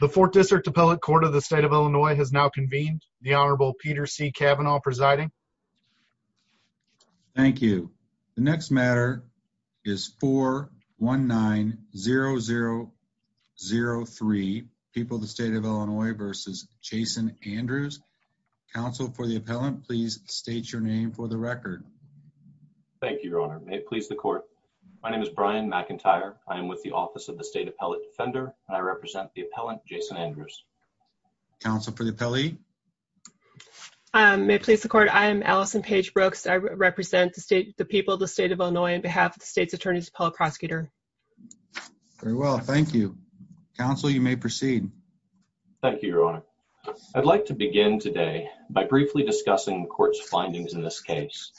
The Fourth District Appellate Court of the State of Illinois has now convened. The Honorable Peter C. Kavanaugh presiding. Thank you. The next matter is 419-0003, People of the State of Illinois v. Jason Andrews. Counsel for the Appellant, please state your name for the record. Thank you, Your Honor. May it please the Court. My name is Brian McIntyre. I am with the Office of the State Appellate Defender. I represent the Appellant, Jason Andrews. Counsel for the Appellee. May it please the Court. I am Allison Paige Brooks. I represent the people of the State of Illinois on behalf of the State's Attorney's Appellate Prosecutor. Very well, thank you. Counsel, you may proceed. Thank you, Your Honor. I'd like to begin today by briefly discussing the Court's findings in this case.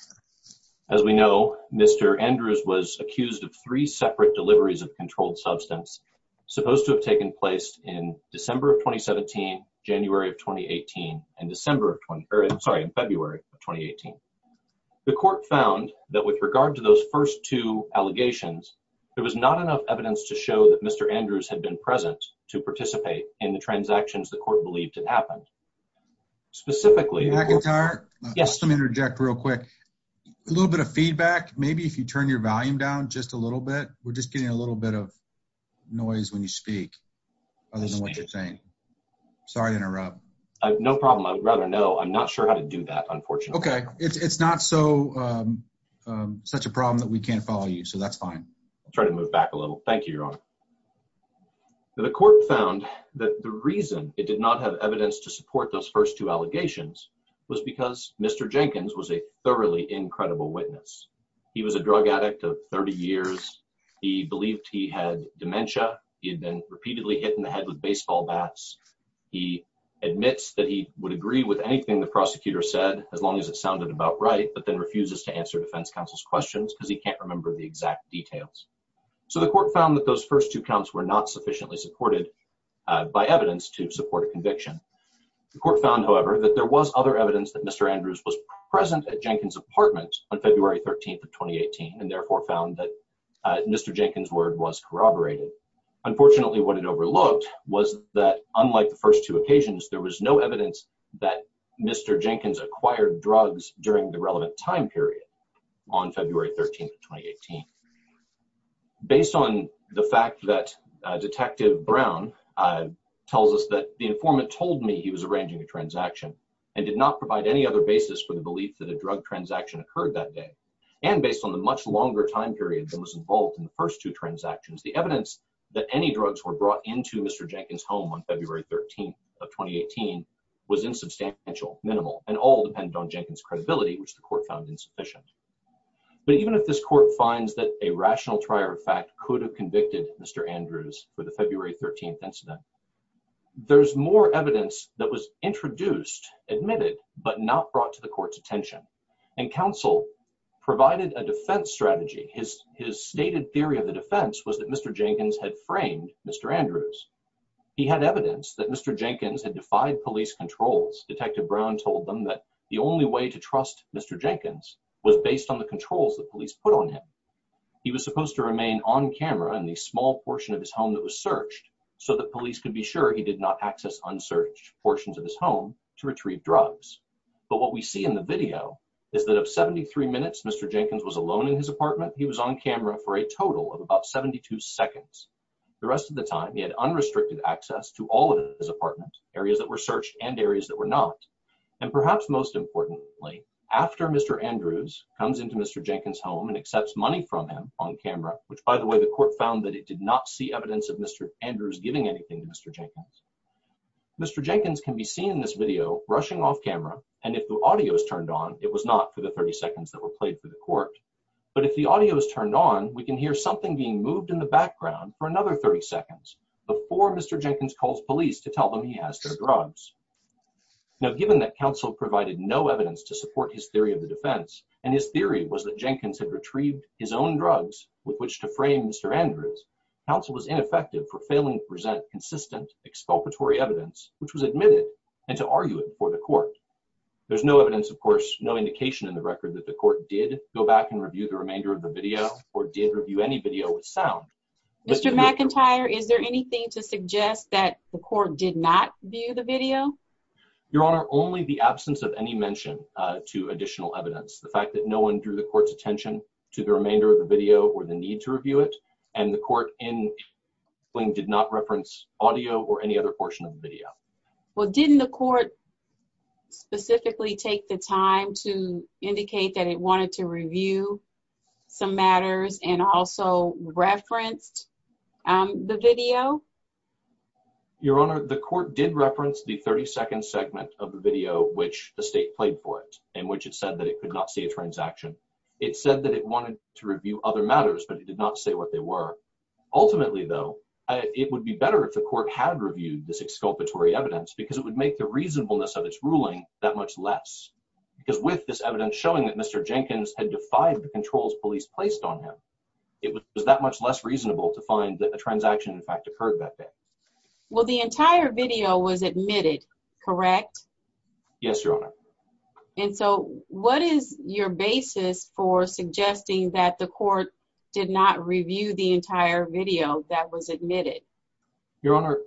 As we know, Mr. Andrews was accused of three separate deliveries of controlled substance supposed to have taken place in December of 2017, January of 2018, and December of 20—or, sorry, in February of 2018. The Court found that with regard to those first two allegations, there was not enough evidence to show that Mr. Andrews had been present to participate in the transactions the Court believed had happened. Specifically— Mr. McIntyre? Yes. Let me interject real quick. A little bit of feedback. Maybe if you turn your volume down just a little bit. We're just getting a little bit of noise when you speak, other than what you're saying. Sorry to interrupt. I have no problem. I would rather know. I'm not sure how to do that, unfortunately. Okay. It's not such a problem that we can't follow you, so that's fine. I'll try to move back a little. Thank you, Your Honor. The Court found that the reason it did not have evidence to support those first two allegations was because Mr. Jenkins was a thoroughly incredible witness. He was a drug addict of 30 years. He believed he had dementia. He had been repeatedly hit in the head with baseball bats. He admits that he would agree with anything the prosecutor said, as long as it sounded about right, but then refuses to answer defense counsel's questions because he can't remember the exact details. So the Court found that those first two counts were not sufficiently supported by evidence to support a conviction. The Court found, however, that there was other evidence that Mr. Andrews was present at Jenkins' apartment on February 13, 2018, and therefore found that Mr. Jenkins' word was corroborated. Unfortunately, what it overlooked was that, unlike the first two occasions, there was no evidence that Mr. Jenkins acquired drugs during the relevant time period on February 13, 2018. Based on the fact that Detective Brown tells us the informant told me he was arranging a transaction and did not provide any other basis for the belief that a drug transaction occurred that day, and based on the much longer time period that was involved in the first two transactions, the evidence that any drugs were brought into Mr. Jenkins' home on February 13, 2018, was insubstantial, minimal, and all dependent on Jenkins' credibility, which the Court found insufficient. But even if this Court finds that a rational trier of fact could have convicted Mr. Andrews for the February 13 incident, there's more evidence that was introduced, admitted, but not brought to the Court's attention, and counsel provided a defense strategy. His stated theory of the defense was that Mr. Jenkins had framed Mr. Andrews. He had evidence that Mr. Jenkins had defied police controls. Detective Brown told them that the only way to trust Mr. Jenkins was based on the controls that police put on him. He was supposed to remain on camera in the small portion of his home that was searched so that police could be sure he did not access unsearched portions of his home to retrieve drugs. But what we see in the video is that of 73 minutes Mr. Jenkins was alone in his apartment, he was on camera for a total of about 72 seconds. The rest of the time he had unrestricted access to all of his apartments, areas that were searched and areas that were not. And perhaps most importantly, after Mr. Andrews comes into Mr. Jenkins' home and accepts money from him on camera, which by the way the Court found that it did not see evidence of Mr. Andrews giving anything to Mr. Jenkins. Mr. Jenkins can be seen in this video rushing off camera and if the audio is turned on, it was not for the 30 seconds that were played for the Court. But if the audio is turned on, we can hear something being moved in the background for another 30 seconds before Mr. Jenkins calls police to tell them he has their drugs. Now given that counsel provided no evidence to support his theory of the defense and his theory was that Jenkins had retrieved his own to frame Mr. Andrews, counsel was ineffective for failing to present consistent expulpatory evidence which was admitted and to argue it before the Court. There's no evidence of course, no indication in the record that the Court did go back and review the remainder of the video or did review any video with sound. Mr. McIntyre, is there anything to suggest that the Court did not view the video? Your Honor, only the absence of any mention to additional evidence. The fact that no one drew the Court's attention to the remainder of the video or the need to review it and the Court did not reference audio or any other portion of the video. Well, didn't the Court specifically take the time to indicate that it wanted to review some matters and also referenced the video? Your Honor, the Court did reference the 30-second segment of the video which the it said that it wanted to review other matters but it did not say what they were. Ultimately though, it would be better if the Court had reviewed this expulpatory evidence because it would make the reasonableness of its ruling that much less because with this evidence showing that Mr. Jenkins had defied the controls police placed on him, it was that much less reasonable to find that the transaction in fact occurred back then. Well, the entire video was admitted, correct? Yes, Your Honor. And so what is your basis for suggesting that the Court did not review the entire video that was admitted? Your Honor,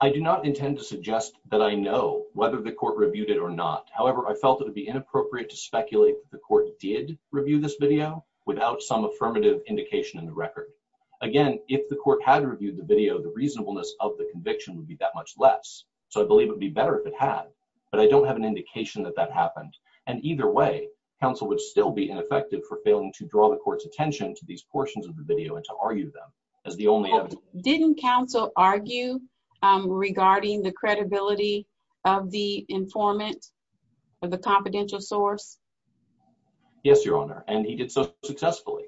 I do not intend to suggest that I know whether the Court reviewed it or not. However, I felt it would be inappropriate to speculate that the Court did review this video without some affirmative indication in the record. Again, if the Court had reviewed the video, the reasonableness of the conviction would be that much less. So I believe it would be better if it had, but I don't have an indication that that happened. And either way, counsel would still be ineffective for failing to draw the Court's attention to these portions of the video and to argue them as the only evidence. Didn't counsel argue regarding the credibility of the informant or the confidential source? Yes, Your Honor, and he did so successfully.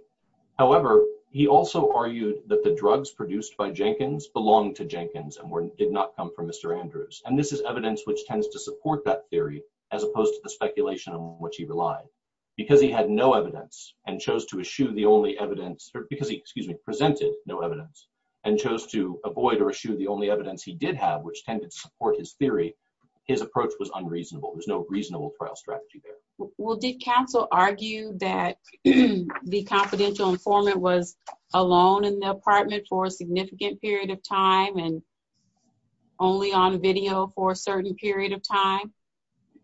However, he also argued that the drugs produced by Jenkins belonged to Jenkins and did not come from Mr. Andrews. And this is evidence which tends to support that theory, as opposed to the speculation on which he relied. Because he had no evidence and chose to eschew the only evidence, or because he, excuse me, presented no evidence and chose to avoid or eschew the only evidence he did have, which tended to support his theory, his approach was unreasonable. There's no reasonable trial strategy there. Well, did informant was alone in the apartment for a significant period of time and only on video for a certain period of time?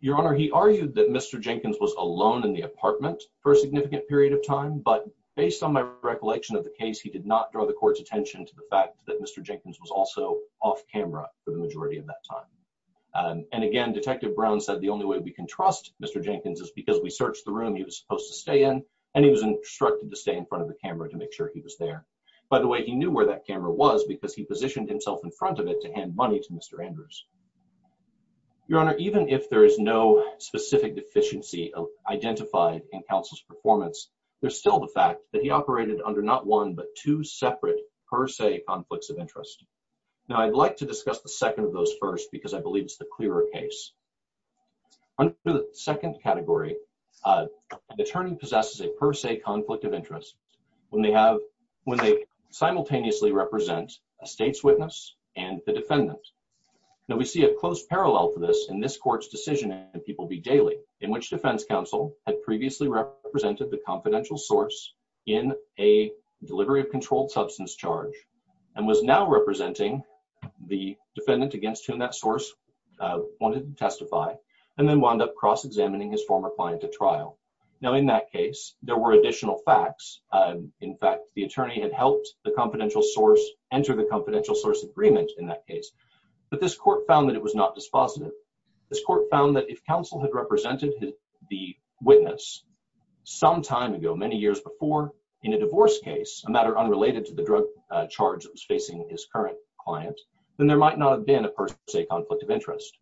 Your Honor, he argued that Mr. Jenkins was alone in the apartment for a significant period of time, but based on my recollection of the case, he did not draw the Court's attention to the fact that Mr. Jenkins was also off camera for the majority of that time. And again, Detective Brown said the only way we can trust Mr. Jenkins is because we stay in front of the camera to make sure he was there. By the way, he knew where that camera was because he positioned himself in front of it to hand money to Mr. Andrews. Your Honor, even if there is no specific deficiency identified in counsel's performance, there's still the fact that he operated under not one, but two separate per se conflicts of interest. Now, I'd like to discuss the second of those first, because I believe it's the clearer case. Under the second category, an attorney possesses a per se conflict of interest when they simultaneously represent a state's witness and the defendant. Now, we see a close parallel for this in this Court's decision in People v. Daly, in which defense counsel had previously represented the confidential source in a delivery of controlled substance charge and was now representing the defendant against whom that source wanted to testify, and then wound up cross-examining his former client at trial. Now, in that case, there were additional facts. In fact, the attorney had helped the confidential source enter the confidential source agreement in that case, but this Court found that it was not dispositive. This Court found that if counsel had represented the witness some time ago, many years before, in a divorce case, a matter unrelated to the drug charge that was facing his client, then there might not have been a per se conflict of interest.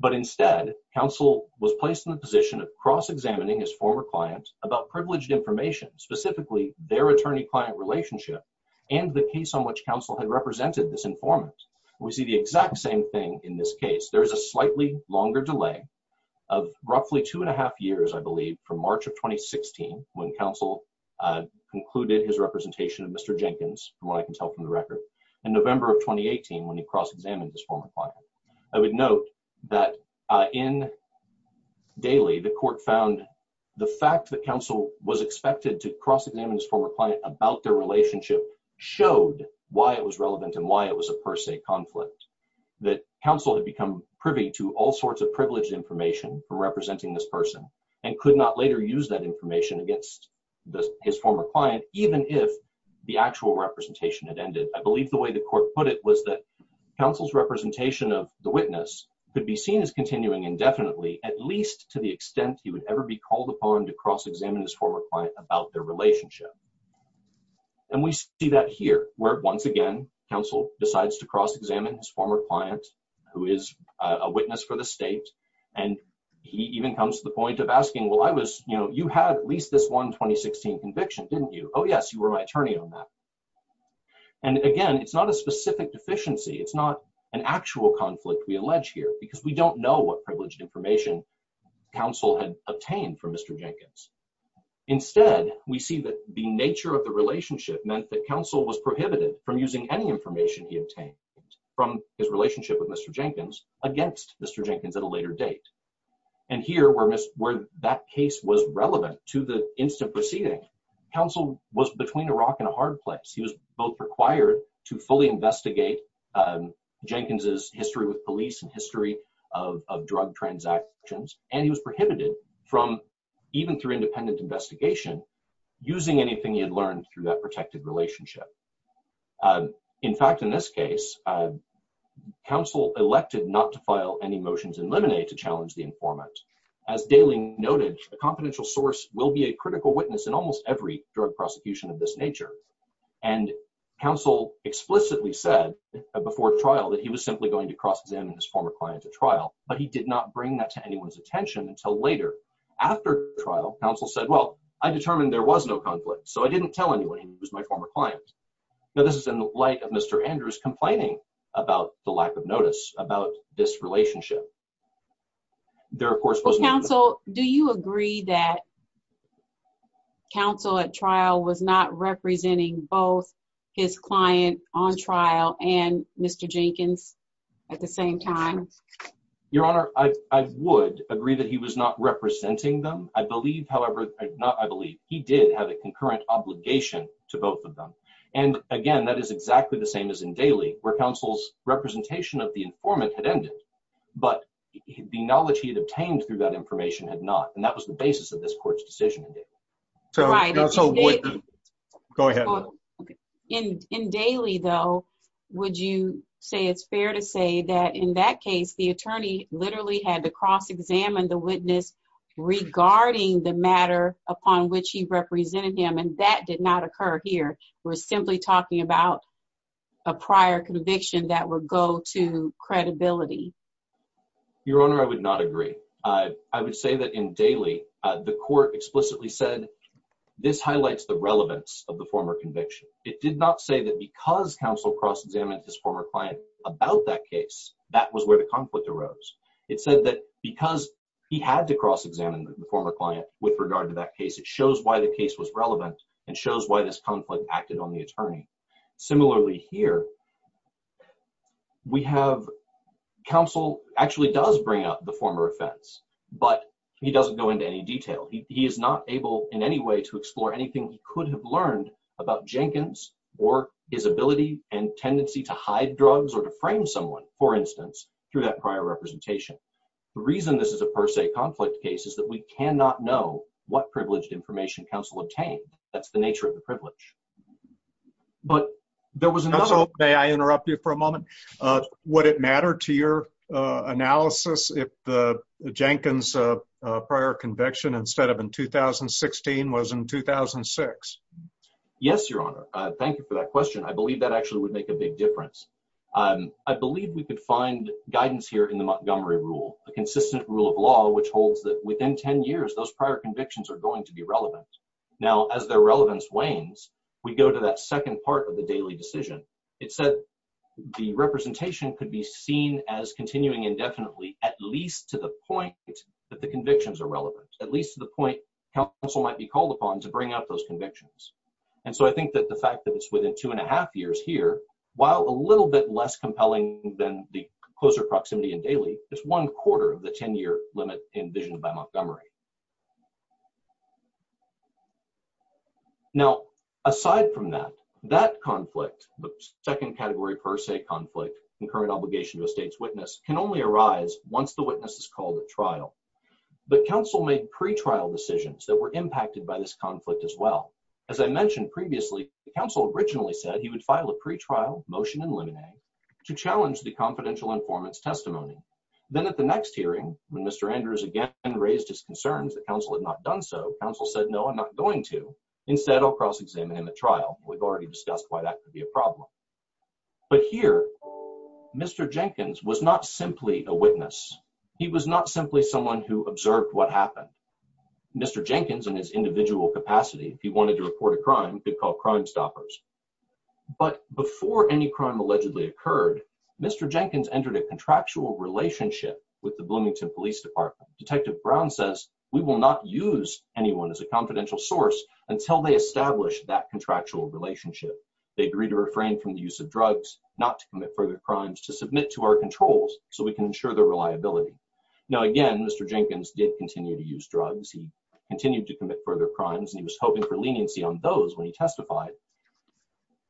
But instead, counsel was placed in the position of cross-examining his former client about privileged information, specifically their attorney-client relationship and the case on which counsel had represented this informant. We see the exact same thing in this case. There is a slightly longer delay of roughly two and a half years, I believe, from March of 2016, when counsel concluded his 2018, when he cross-examined his former client. I would note that in Daly, the Court found the fact that counsel was expected to cross-examine his former client about their relationship showed why it was relevant and why it was a per se conflict, that counsel had become privy to all sorts of privileged information for representing this person and could not later use that information against his former client, even if the actual representation had ended. I was that counsel's representation of the witness could be seen as continuing indefinitely, at least to the extent he would ever be called upon to cross-examine his former client about their relationship. And we see that here, where once again, counsel decides to cross-examine his former client, who is a witness for the state, and he even comes to the point of asking, well, I was, you know, you had at least this one 2016 conviction, didn't you? Oh yes, you were my attorney on that. And again, it's not a specific deficiency, it's not an actual conflict we allege here, because we don't know what privileged information counsel had obtained from Mr. Jenkins. Instead, we see that the nature of the relationship meant that counsel was prohibited from using any information he obtained from his relationship with Mr. Jenkins against Mr. Jenkins at a later date. And here, where that case was relevant to the instant proceeding, counsel was between a rock and a hard place. He was both required to fully investigate Jenkins' history with police and history of drug transactions, and he was prohibited from, even through independent investigation, using anything he had learned through that protected relationship. In fact, in this case, counsel elected not to file any motions in limine to challenge the informant. As Dailing noted, a confidential source will be a critical witness in almost every drug prosecution of this nature. And counsel explicitly said before trial that he was simply going to cross-examine his former client at trial, but he did not bring that to anyone's attention until later. After trial, counsel said, well, I determined there was no conflict, so I didn't tell anyone he was my about the lack of notice about this relationship. Do you agree that counsel at trial was not representing both his client on trial and Mr. Jenkins at the same time? Your Honor, I would agree that he was not representing them. I believe, however, he did have a concurrent obligation to both of them. And again, that is exactly the same as in Dailing, where counsel's representation of the informant had ended, but the knowledge he had obtained through that information had not. And that was the basis of this court's decision. Go ahead. In Dailing, though, would you say it's fair to say that in that case, the attorney literally had to cross-examine the witness regarding the matter upon which he represented and that did not occur here? We're simply talking about a prior conviction that would go to credibility. Your Honor, I would not agree. I would say that in Dailing, the court explicitly said this highlights the relevance of the former conviction. It did not say that because counsel cross-examined his former client about that case, that was where the conflict arose. It said that because he had to cross-examine the former client with regard to that case, it shows why the case was relevant and shows why this conflict acted on the attorney. Similarly here, we have counsel actually does bring up the former offense, but he doesn't go into any detail. He is not able in any way to explore anything he could have learned about Jenkins or his ability and tendency to hide drugs or to frame someone, for instance, through that prior representation. The reason this is a conflict case is that we cannot know what privileged information counsel obtained. That's the nature of the privilege. But there was another... May I interrupt you for a moment? Would it matter to your analysis if Jenkins' prior conviction instead of in 2016 was in 2006? Yes, Your Honor. Thank you for that question. I believe that actually would make a big difference. I believe we could find guidance here in the Montgomery Rule, a consistent rule of law which holds that within 10 years, those prior convictions are going to be relevant. Now, as their relevance wanes, we go to that second part of the daily decision. It said the representation could be seen as continuing indefinitely at least to the point that the convictions are relevant, at least to the point counsel might be called upon to bring out those convictions. And so I think that the fact that it's within two and a half years here, while a little bit less compelling than the closer proximity in daily, it's one quarter of the 10-year limit envisioned by Montgomery. Now, aside from that, that conflict, the second category per se conflict, concurrent obligation to a state's witness, can only arise once the witness is called at trial. But counsel made pretrial decisions that were impacted by this conflict as well. As I mentioned previously, counsel originally said he would file a pretrial motion in limine to challenge the confidential informant's testimony. Then at the next hearing, when Mr. Andrews again raised his concerns that counsel had not done so, counsel said, no, I'm not going to. Instead, I'll cross-examine him at trial. We've already discussed why that could be a problem. But here, Mr. Jenkins was not simply a witness. He was not simply someone who observed what happened. Mr. Jenkins, in his individual capacity, if he wanted to report a crime, could call Crimestoppers. But before any crime allegedly occurred, Mr. Jenkins entered a contractual relationship with the Bloomington Police Department. Detective Brown says, we will not use anyone as a confidential source until they establish that contractual relationship. They agree to refrain from the use of drugs, not to commit further crimes, to submit to our controls so we can ensure their reliability. Now, again, Mr. Jenkins did continue to use drugs. He continued to commit further crimes, and he was hoping for leniency on those when he testified.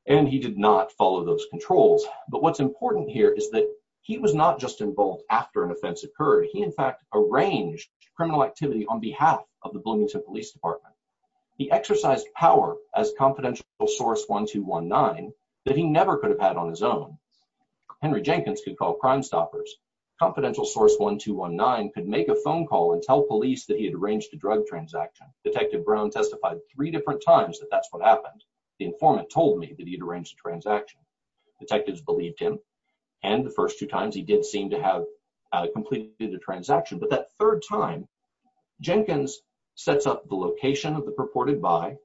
And he did not follow those controls. But what's important here is that he was not just involved after an offense occurred. He, in fact, arranged criminal activity on behalf of the Bloomington Police Department. He exercised power as confidential source 1219 that he never could have had on his own. Henry Jenkins could call Crimestoppers. Confidential source 1219 could make a phone call and tell police that he had arranged a drug transaction. Detective Brown testified three different times that that's what happened. The informant told me that he'd arranged a transaction. Detectives believed him. And the first two times, he did seem to have completed a transaction. But that third time, Jenkins sets up the location of the purported buy.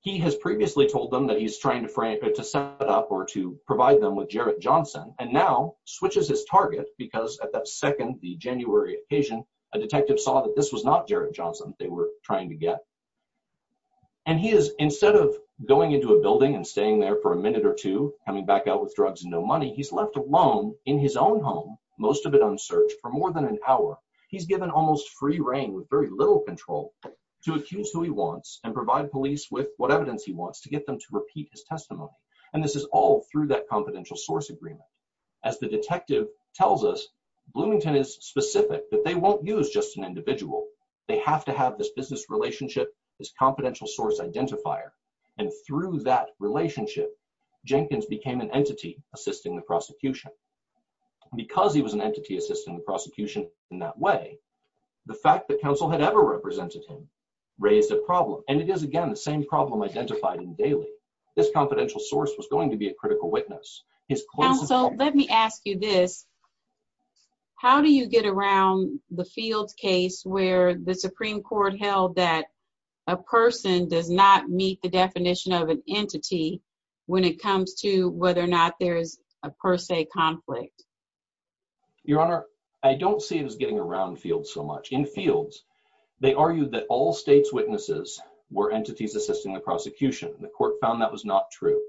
He has previously told them that he's trying to set up or to provide them with Jarrett Johnson, and now switches his target because at that second, the January occasion, a detective saw that this was not Jarrett Johnson they were trying to get. And he is, instead of going into a building and staying there for a minute or two, coming back out with drugs and no money, he's left alone in his own home, most of it unsearched, for more than an hour. He's given almost free reign with very little control to accuse who he wants and provide police with what evidence he wants to get them to repeat his testimony. And this is all through that confidential source agreement. As the detective tells us, Bloomington is specific that they won't use just an individual. They have to have this business relationship, this confidential source identifier. And through that relationship, Jenkins became an entity assisting the prosecution. Because he was an entity assisting the prosecution in that way, the fact that counsel had ever represented him raised a problem. And it is, again, the same problem identified in Daly. This confidential source was going to be a critical witness. Counsel, let me ask you this. How do you get around the Fields case where the Supreme Court held that a person does not meet the definition of an entity when it comes to whether or not there is a per se conflict? Your Honor, I don't see it as getting around Fields so much. In Fields, they argued that all states' witnesses were entities assisting the prosecution. The court found that was not true.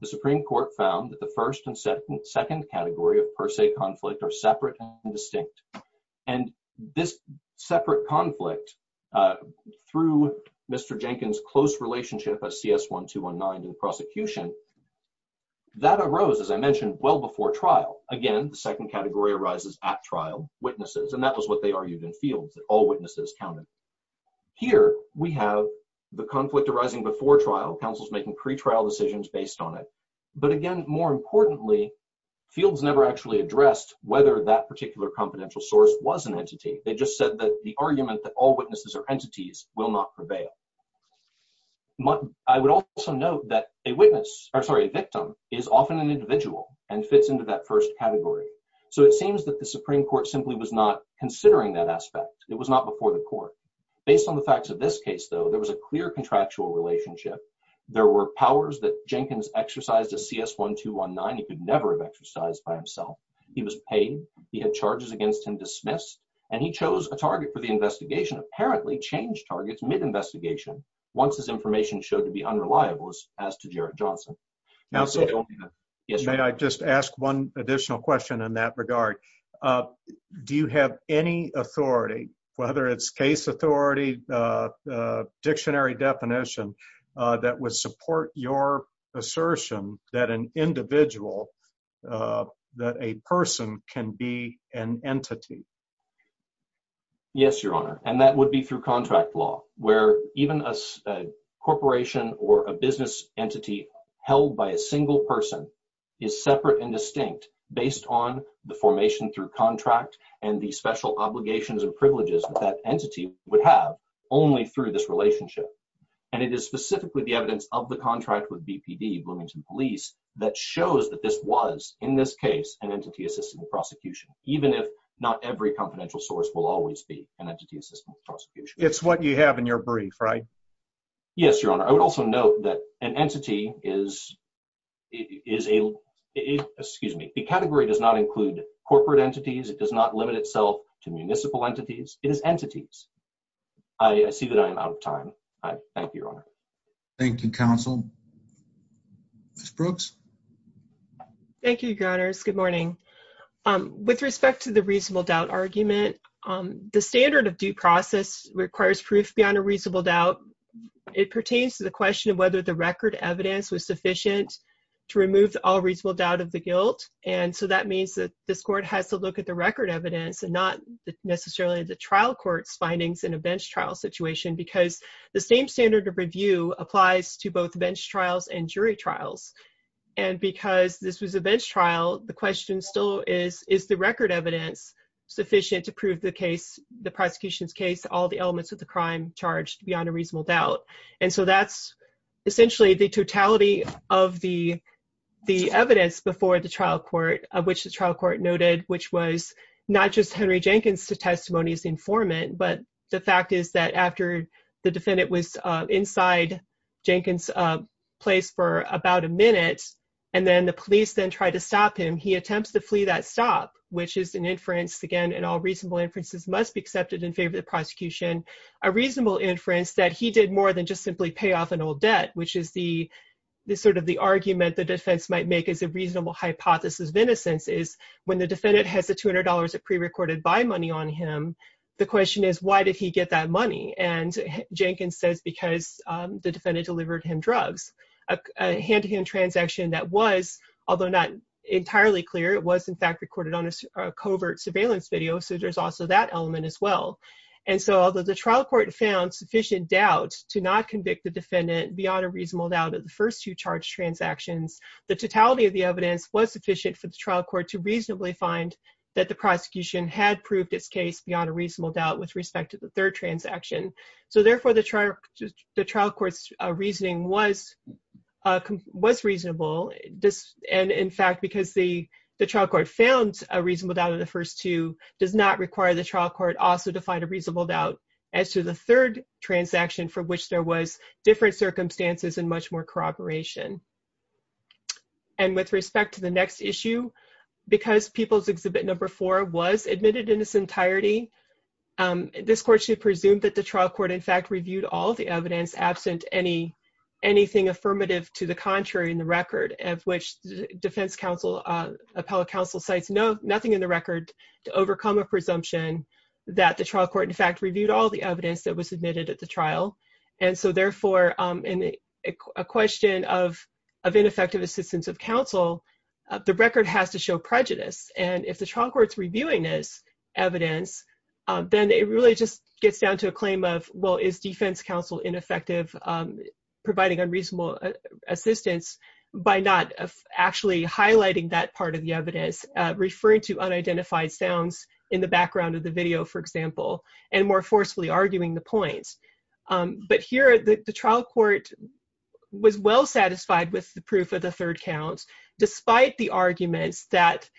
The Supreme Court found that the first and second category of per se conflict are separate and distinct. And this separate conflict, through Mr. Jenkins' close relationship as CS-1219 in prosecution, that arose, as I mentioned, well before trial. Again, the second category arises at trial, witnesses. And that was what they argued in Fields, that all witnesses counted. Here, we have the conflict arising before trial, counsels making pretrial decisions based on it. But again, more importantly, Fields never actually addressed whether that particular confidential source was an entity. They just said that the argument that all witnesses are a victim is often an individual and fits into that first category. So it seems that the Supreme Court simply was not considering that aspect. It was not before the court. Based on the facts of this case, though, there was a clear contractual relationship. There were powers that Jenkins exercised as CS-1219. He could never have exercised by himself. He was paid. He had charges against him dismissed. And he chose a target for the investigation, apparently changed targets mid-investigation, once his information showed to be unreliable, as to Jarrett Johnson. Now, sir, may I just ask one additional question in that regard? Do you have any authority, whether it's case authority, dictionary definition, that would support your assertion that an individual, that a person can be an entity? Yes, Your Honor. And that would be through contract law, where even a corporation or a business entity held by a single person is separate and distinct based on the formation through contract and the special obligations and privileges that that entity would have only through this relationship. And it is specifically the evidence of the contract with BPD, Bloomington Police, that shows that this was, in this case, an entity assisting the prosecution, even if not every confidential source will always be an entity assisting the prosecution. It's what you have in your brief, right? Yes, Your Honor. I would also note that an entity is, excuse me, the category does not include corporate entities. It does not limit itself to municipal entities. It is entities. I see that I am out of time. Thank you, Your Honor. Thank you, counsel. Ms. Brooks? Thank you, Your Honors. Good morning. With respect to the reasonable doubt argument, the standard of due process requires proof beyond a reasonable doubt. It pertains to the question of whether the record evidence was sufficient to remove all reasonable doubt of the guilt. And so that means that this court has to look at the record evidence and not necessarily the trial court's findings in a bench trial situation because the same standard of review applies to both bench trials and jury trials. And because this was a bench trial, the question still is, is the record evidence sufficient to prove the case, the prosecution's case, all the elements of the crime charged beyond a reasonable doubt? And so that's essentially the totality of the evidence before the trial court, of which the trial court noted, which was not just Henry Jenkins' testimony as the informant, but the fact is that after the defendant was inside Jenkins' place for about a minute, and then the police then tried to stop him, he attempts to flee that stop, which is an inference, again, and all reasonable inferences must be accepted in favor of the prosecution, a reasonable inference that he did more than just simply pay off an old debt, which is the sort of the argument the defense might make as a reasonable hypothesis of innocence is when the defendant has the $200 of prerecorded money on him, the question is, why did he get that money? And Jenkins says, because the defendant delivered him drugs, a hand-to-hand transaction that was, although not entirely clear, it was, in fact, recorded on a covert surveillance video. So there's also that element as well. And so although the trial court found sufficient doubt to not convict the defendant beyond a reasonable doubt of the first two charged transactions, the totality of the evidence was sufficient for the trial court to reasonably find that the prosecution had proved its case beyond a reasonable doubt with respect to the third transaction. So therefore, the trial court's reasoning was reasonable. And in fact, because the trial court found a reasonable doubt of the first two does not require the trial court also to find a reasonable doubt as to the third transaction for which there was different circumstances and much more corroboration. And with respect to the next issue, because People's Exhibit No. 4 was admitted in its entirety, this court should presume that the trial court, in fact, reviewed all the evidence absent anything affirmative to the contrary in the record of which defense counsel, appellate counsel, cites nothing in the record to overcome a presumption that the trial court, in fact, reviewed all the evidence that was admitted at the trial. And so therefore, in a question of ineffective assistance of counsel, the record has to show prejudice. And if the trial court's reviewing this evidence, then it really just gets down to a claim of, well, is defense counsel ineffective providing unreasonable assistance by not actually highlighting that part of the evidence, referring to unidentified sounds in the background of the video, for example, and more forcefully arguing the points. But here, the trial court was well satisfied with the proof of the third count, despite the arguments that,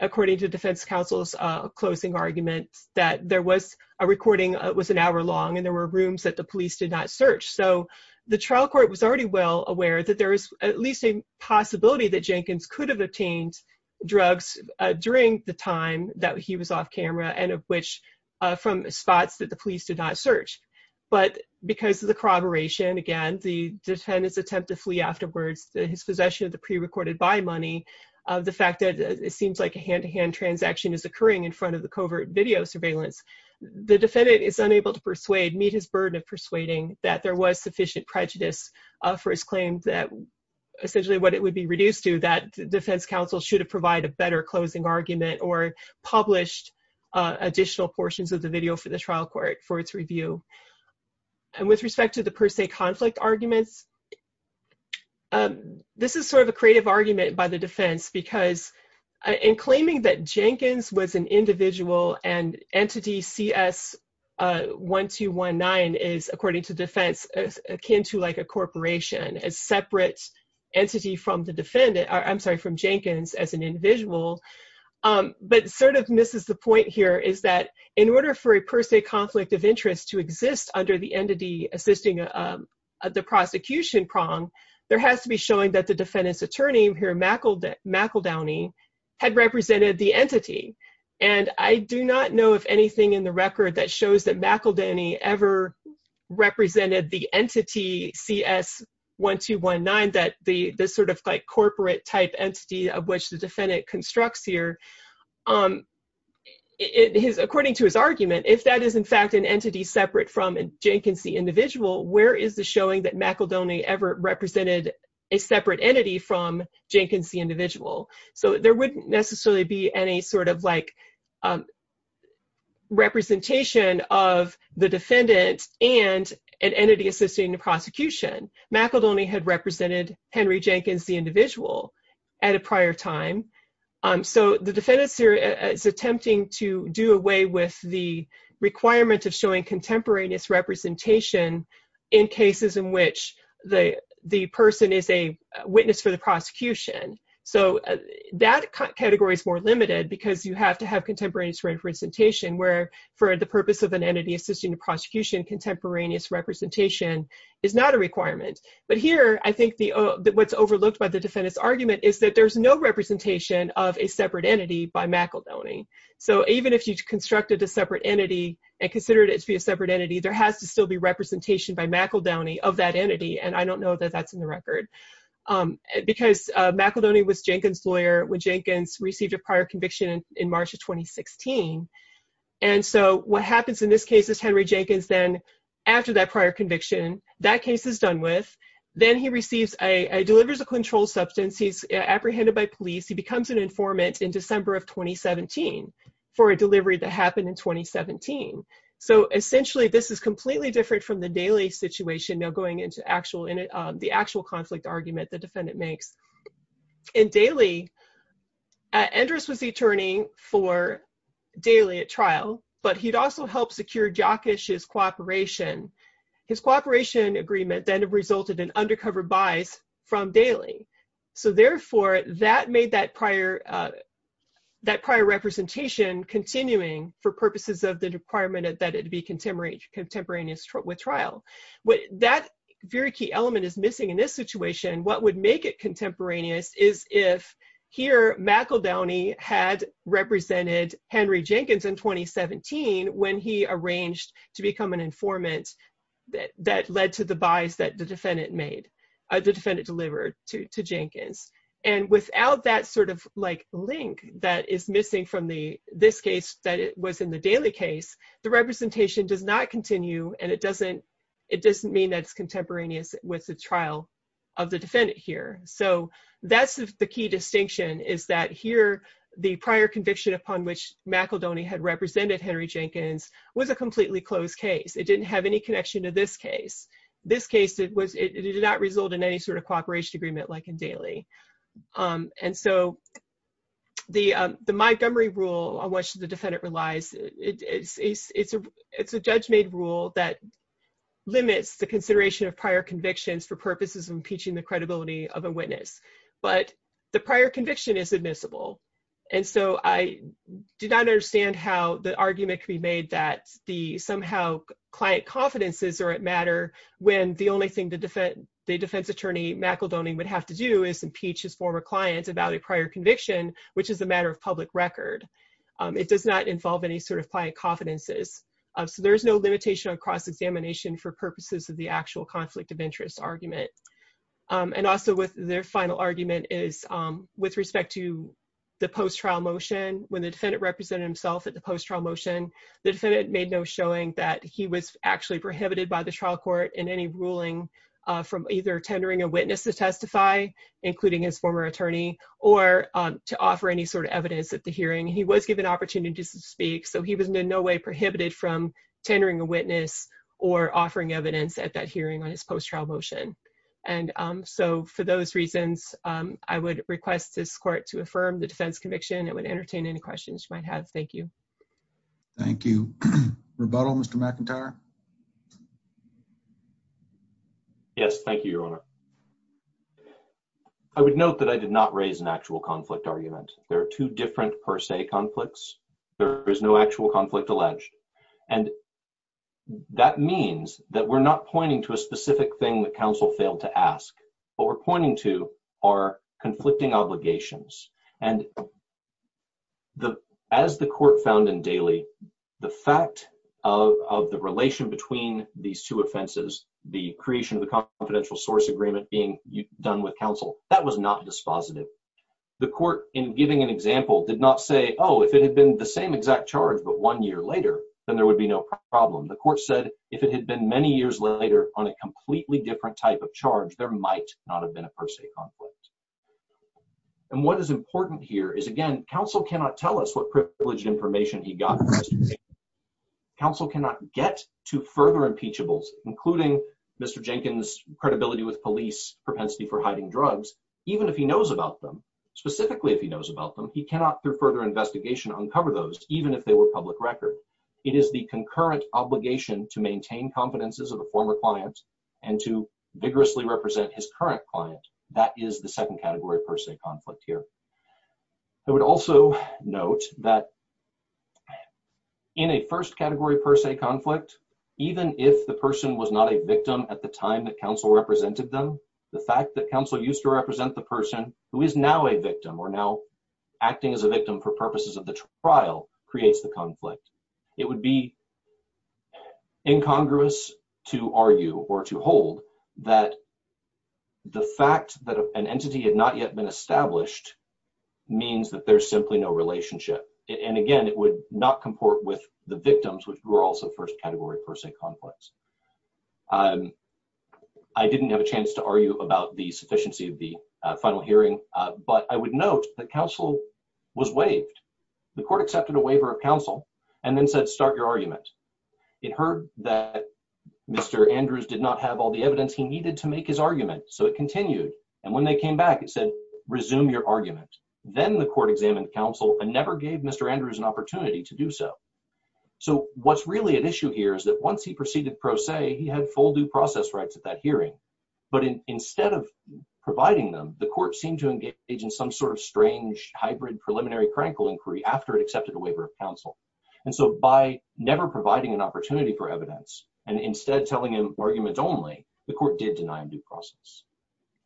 according to defense counsel's closing argument, that there was a recording, it was an hour long, and there were rooms that the police did not search. So the trial court was already well aware that there is at least a possibility that Jenkins could have obtained drugs during the time that he was off camera, and of which, from spots that the police did not search. But because of the corroboration, again, the defendant's attempt to flee afterwards, his possession of the prerecorded buy money, the fact that it seems like a hand-to-hand transaction is occurring in front of the covert video surveillance, the defendant is unable to persuade, meet his burden of persuading, that there was sufficient prejudice for his claim that essentially what it would be reduced to, that defense counsel should provide a better closing argument or published additional portions of the video for the trial court for its review. And with respect to the per se conflict arguments, this is sort of a creative argument by the defense, because in claiming that Jenkins was an individual and entity CS 1219 is, according to defense, akin to like a corporation, a separate entity from the defendant, or I'm sorry, from Jenkins as an individual, but sort of misses the point here, is that in order for a per se conflict of interest to exist under the entity assisting the prosecution prong, there has to be showing that the defendant's attorney here, McEldowney, had represented the entity. And I do not know if anything in the record that shows that McEldowney ever represented the entity CS 1219, that the sort of like corporate type entity of which the defendant constructs here, according to his argument, if that is in fact an entity separate from a Jenkins individual, where is the showing that McEldowney ever represented a separate entity from Jenkins the individual. So there wouldn't necessarily be any sort of like representation of the defendant and an entity assisting the prosecution. McEldowney had represented Henry Jenkins, the individual at a prior time. So the defendant is attempting to do away with the requirement of showing contemporaneous representation in cases in which the person is a witness for the prosecution. So that category is more limited because you have to have contemporaneous representation, where for the purpose of an entity assisting the prosecution, contemporaneous representation is not a requirement. But here, I think what's overlooked by the defendant's argument is that there's no representation of a separate entity by McEldowney. So even if you constructed a separate entity and considered it to be a separate entity, there has to still be representation by McEldowney of that entity. And I don't know that that's in the record. Because McEldowney was Jenkins' lawyer when Jenkins received a prior conviction in March of 2016. And so what happens in this case is Henry Jenkins then, after that prior conviction, that case is done with, then he receives a, delivers a controlled substance, he's apprehended by police, he becomes an informant in December of 2017 for a delivery that happened in 2017. So essentially, this is completely different from the Daley situation, now going into actual, in the actual conflict argument the defendant makes. In Daley, Endress was the attorney for Daley at trial, but he'd also helped secure Jockish's cooperation. His cooperation agreement then resulted in undercover buys from Daley. So therefore, that made that prior, that prior representation continuing for purposes of the contemporaneous with trial. What that very key element is missing in this situation, what would make it contemporaneous is if here McEldowney had represented Henry Jenkins in 2017, when he arranged to become an informant, that led to the buys that the defendant made, the defendant delivered to Jenkins. And without that sort of like link that is missing from the, this case that was in the Daley case, the representation does not continue and it doesn't, it doesn't mean that it's contemporaneous with the trial of the defendant here. So that's the key distinction is that here, the prior conviction upon which McEldowney had represented Henry Jenkins was a completely closed case. It didn't have any connection to this case. This case, it was, it did not result in any sort of cooperation agreement like in Daley. And so the Montgomery rule on which the defendant relies, it's a judge-made rule that limits the consideration of prior convictions for purposes of impeaching the credibility of a witness. But the prior conviction is admissible. And so I do not understand how the argument could be made that the somehow client confidences are at matter when the only thing the defense attorney McEldowney would have to do is impeach his former clients about a prior conviction, which is a matter of public record. It does not involve any sort of client confidences. So there's no limitation on cross-examination for purposes of the actual conflict of interest argument. And also with their final argument is with respect to the post-trial motion, when the defendant represented himself at the post-trial motion, the defendant made no showing that he was actually prohibited by the trial court in any ruling from either tendering a witness to testify, including his former attorney, or to offer any sort of evidence at the hearing. He was given opportunities to speak. So he was in no way prohibited from tendering a witness or offering evidence at that hearing on his post-trial motion. And so for those reasons, I would request this court to affirm the defense conviction. It would entertain any questions you might have. Thank you. Thank you. Rebuttal, Mr. McIntyre. Yes. Thank you, Your Honor. I would note that I did not raise an actual conflict argument. There are two different per se conflicts. There is no actual conflict alleged. And that means that we're not pointing to a specific thing that counsel failed to ask. What we're pointing to are conflicting obligations. And as the court found in Daley, the fact of the relation between these two offenses, the creation of the confidential source agreement being done with counsel, that was not dispositive. The court, in giving an example, did not say, oh, if it had been the same exact charge, but one year later, then there would be no problem. The court said, if it had been many years later on a completely different type of charge, there might not have been a per se conflict. And what is important here is, again, counsel cannot tell us what privileged information he got. Counsel cannot get to further impeachables, including Mr. Jenkins' credibility with police, propensity for hiding drugs, even if he knows about them. Specifically, if he knows about them, he cannot, through further investigation, uncover those, even if they were public record. It is the concurrent obligation to maintain competences of a former client and to vigorously represent his current client. That is the second category per se conflict here. I would also note that in a first category per se conflict, even if the person was not a victim at the time that counsel represented them, the fact that counsel used to represent the person who is now a victim or now acting as a victim for purposes of conflict, it would be incongruous to argue or to hold that the fact that an entity had not yet been established means that there's simply no relationship. And again, it would not comport with the victims, which were also first category per se conflicts. I didn't have a chance to argue about the sufficiency of the final hearing, but I would note that counsel was waived. The court accepted a waiver of counsel and then said, start your argument. It heard that Mr. Andrews did not have all the evidence he needed to make his argument, so it continued. And when they came back, it said, resume your argument. Then the court examined counsel and never gave Mr. Andrews an opportunity to do so. So what's really at issue here is that once he proceeded pro se, he had full due process rights at that hearing. But instead of providing them, the court seemed to engage in some sort of strange hybrid preliminary critical inquiry after it accepted a waiver of counsel. And so by never providing an opportunity for evidence and instead telling him arguments only, the court did deny him due process.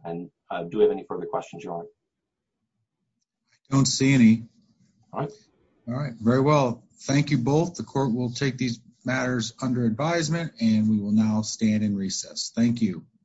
And do we have any further questions, John? I don't see any. All right. All right. Very well. Thank you both. The court will take these matters under advisement and we will now stand in recess. Thank you.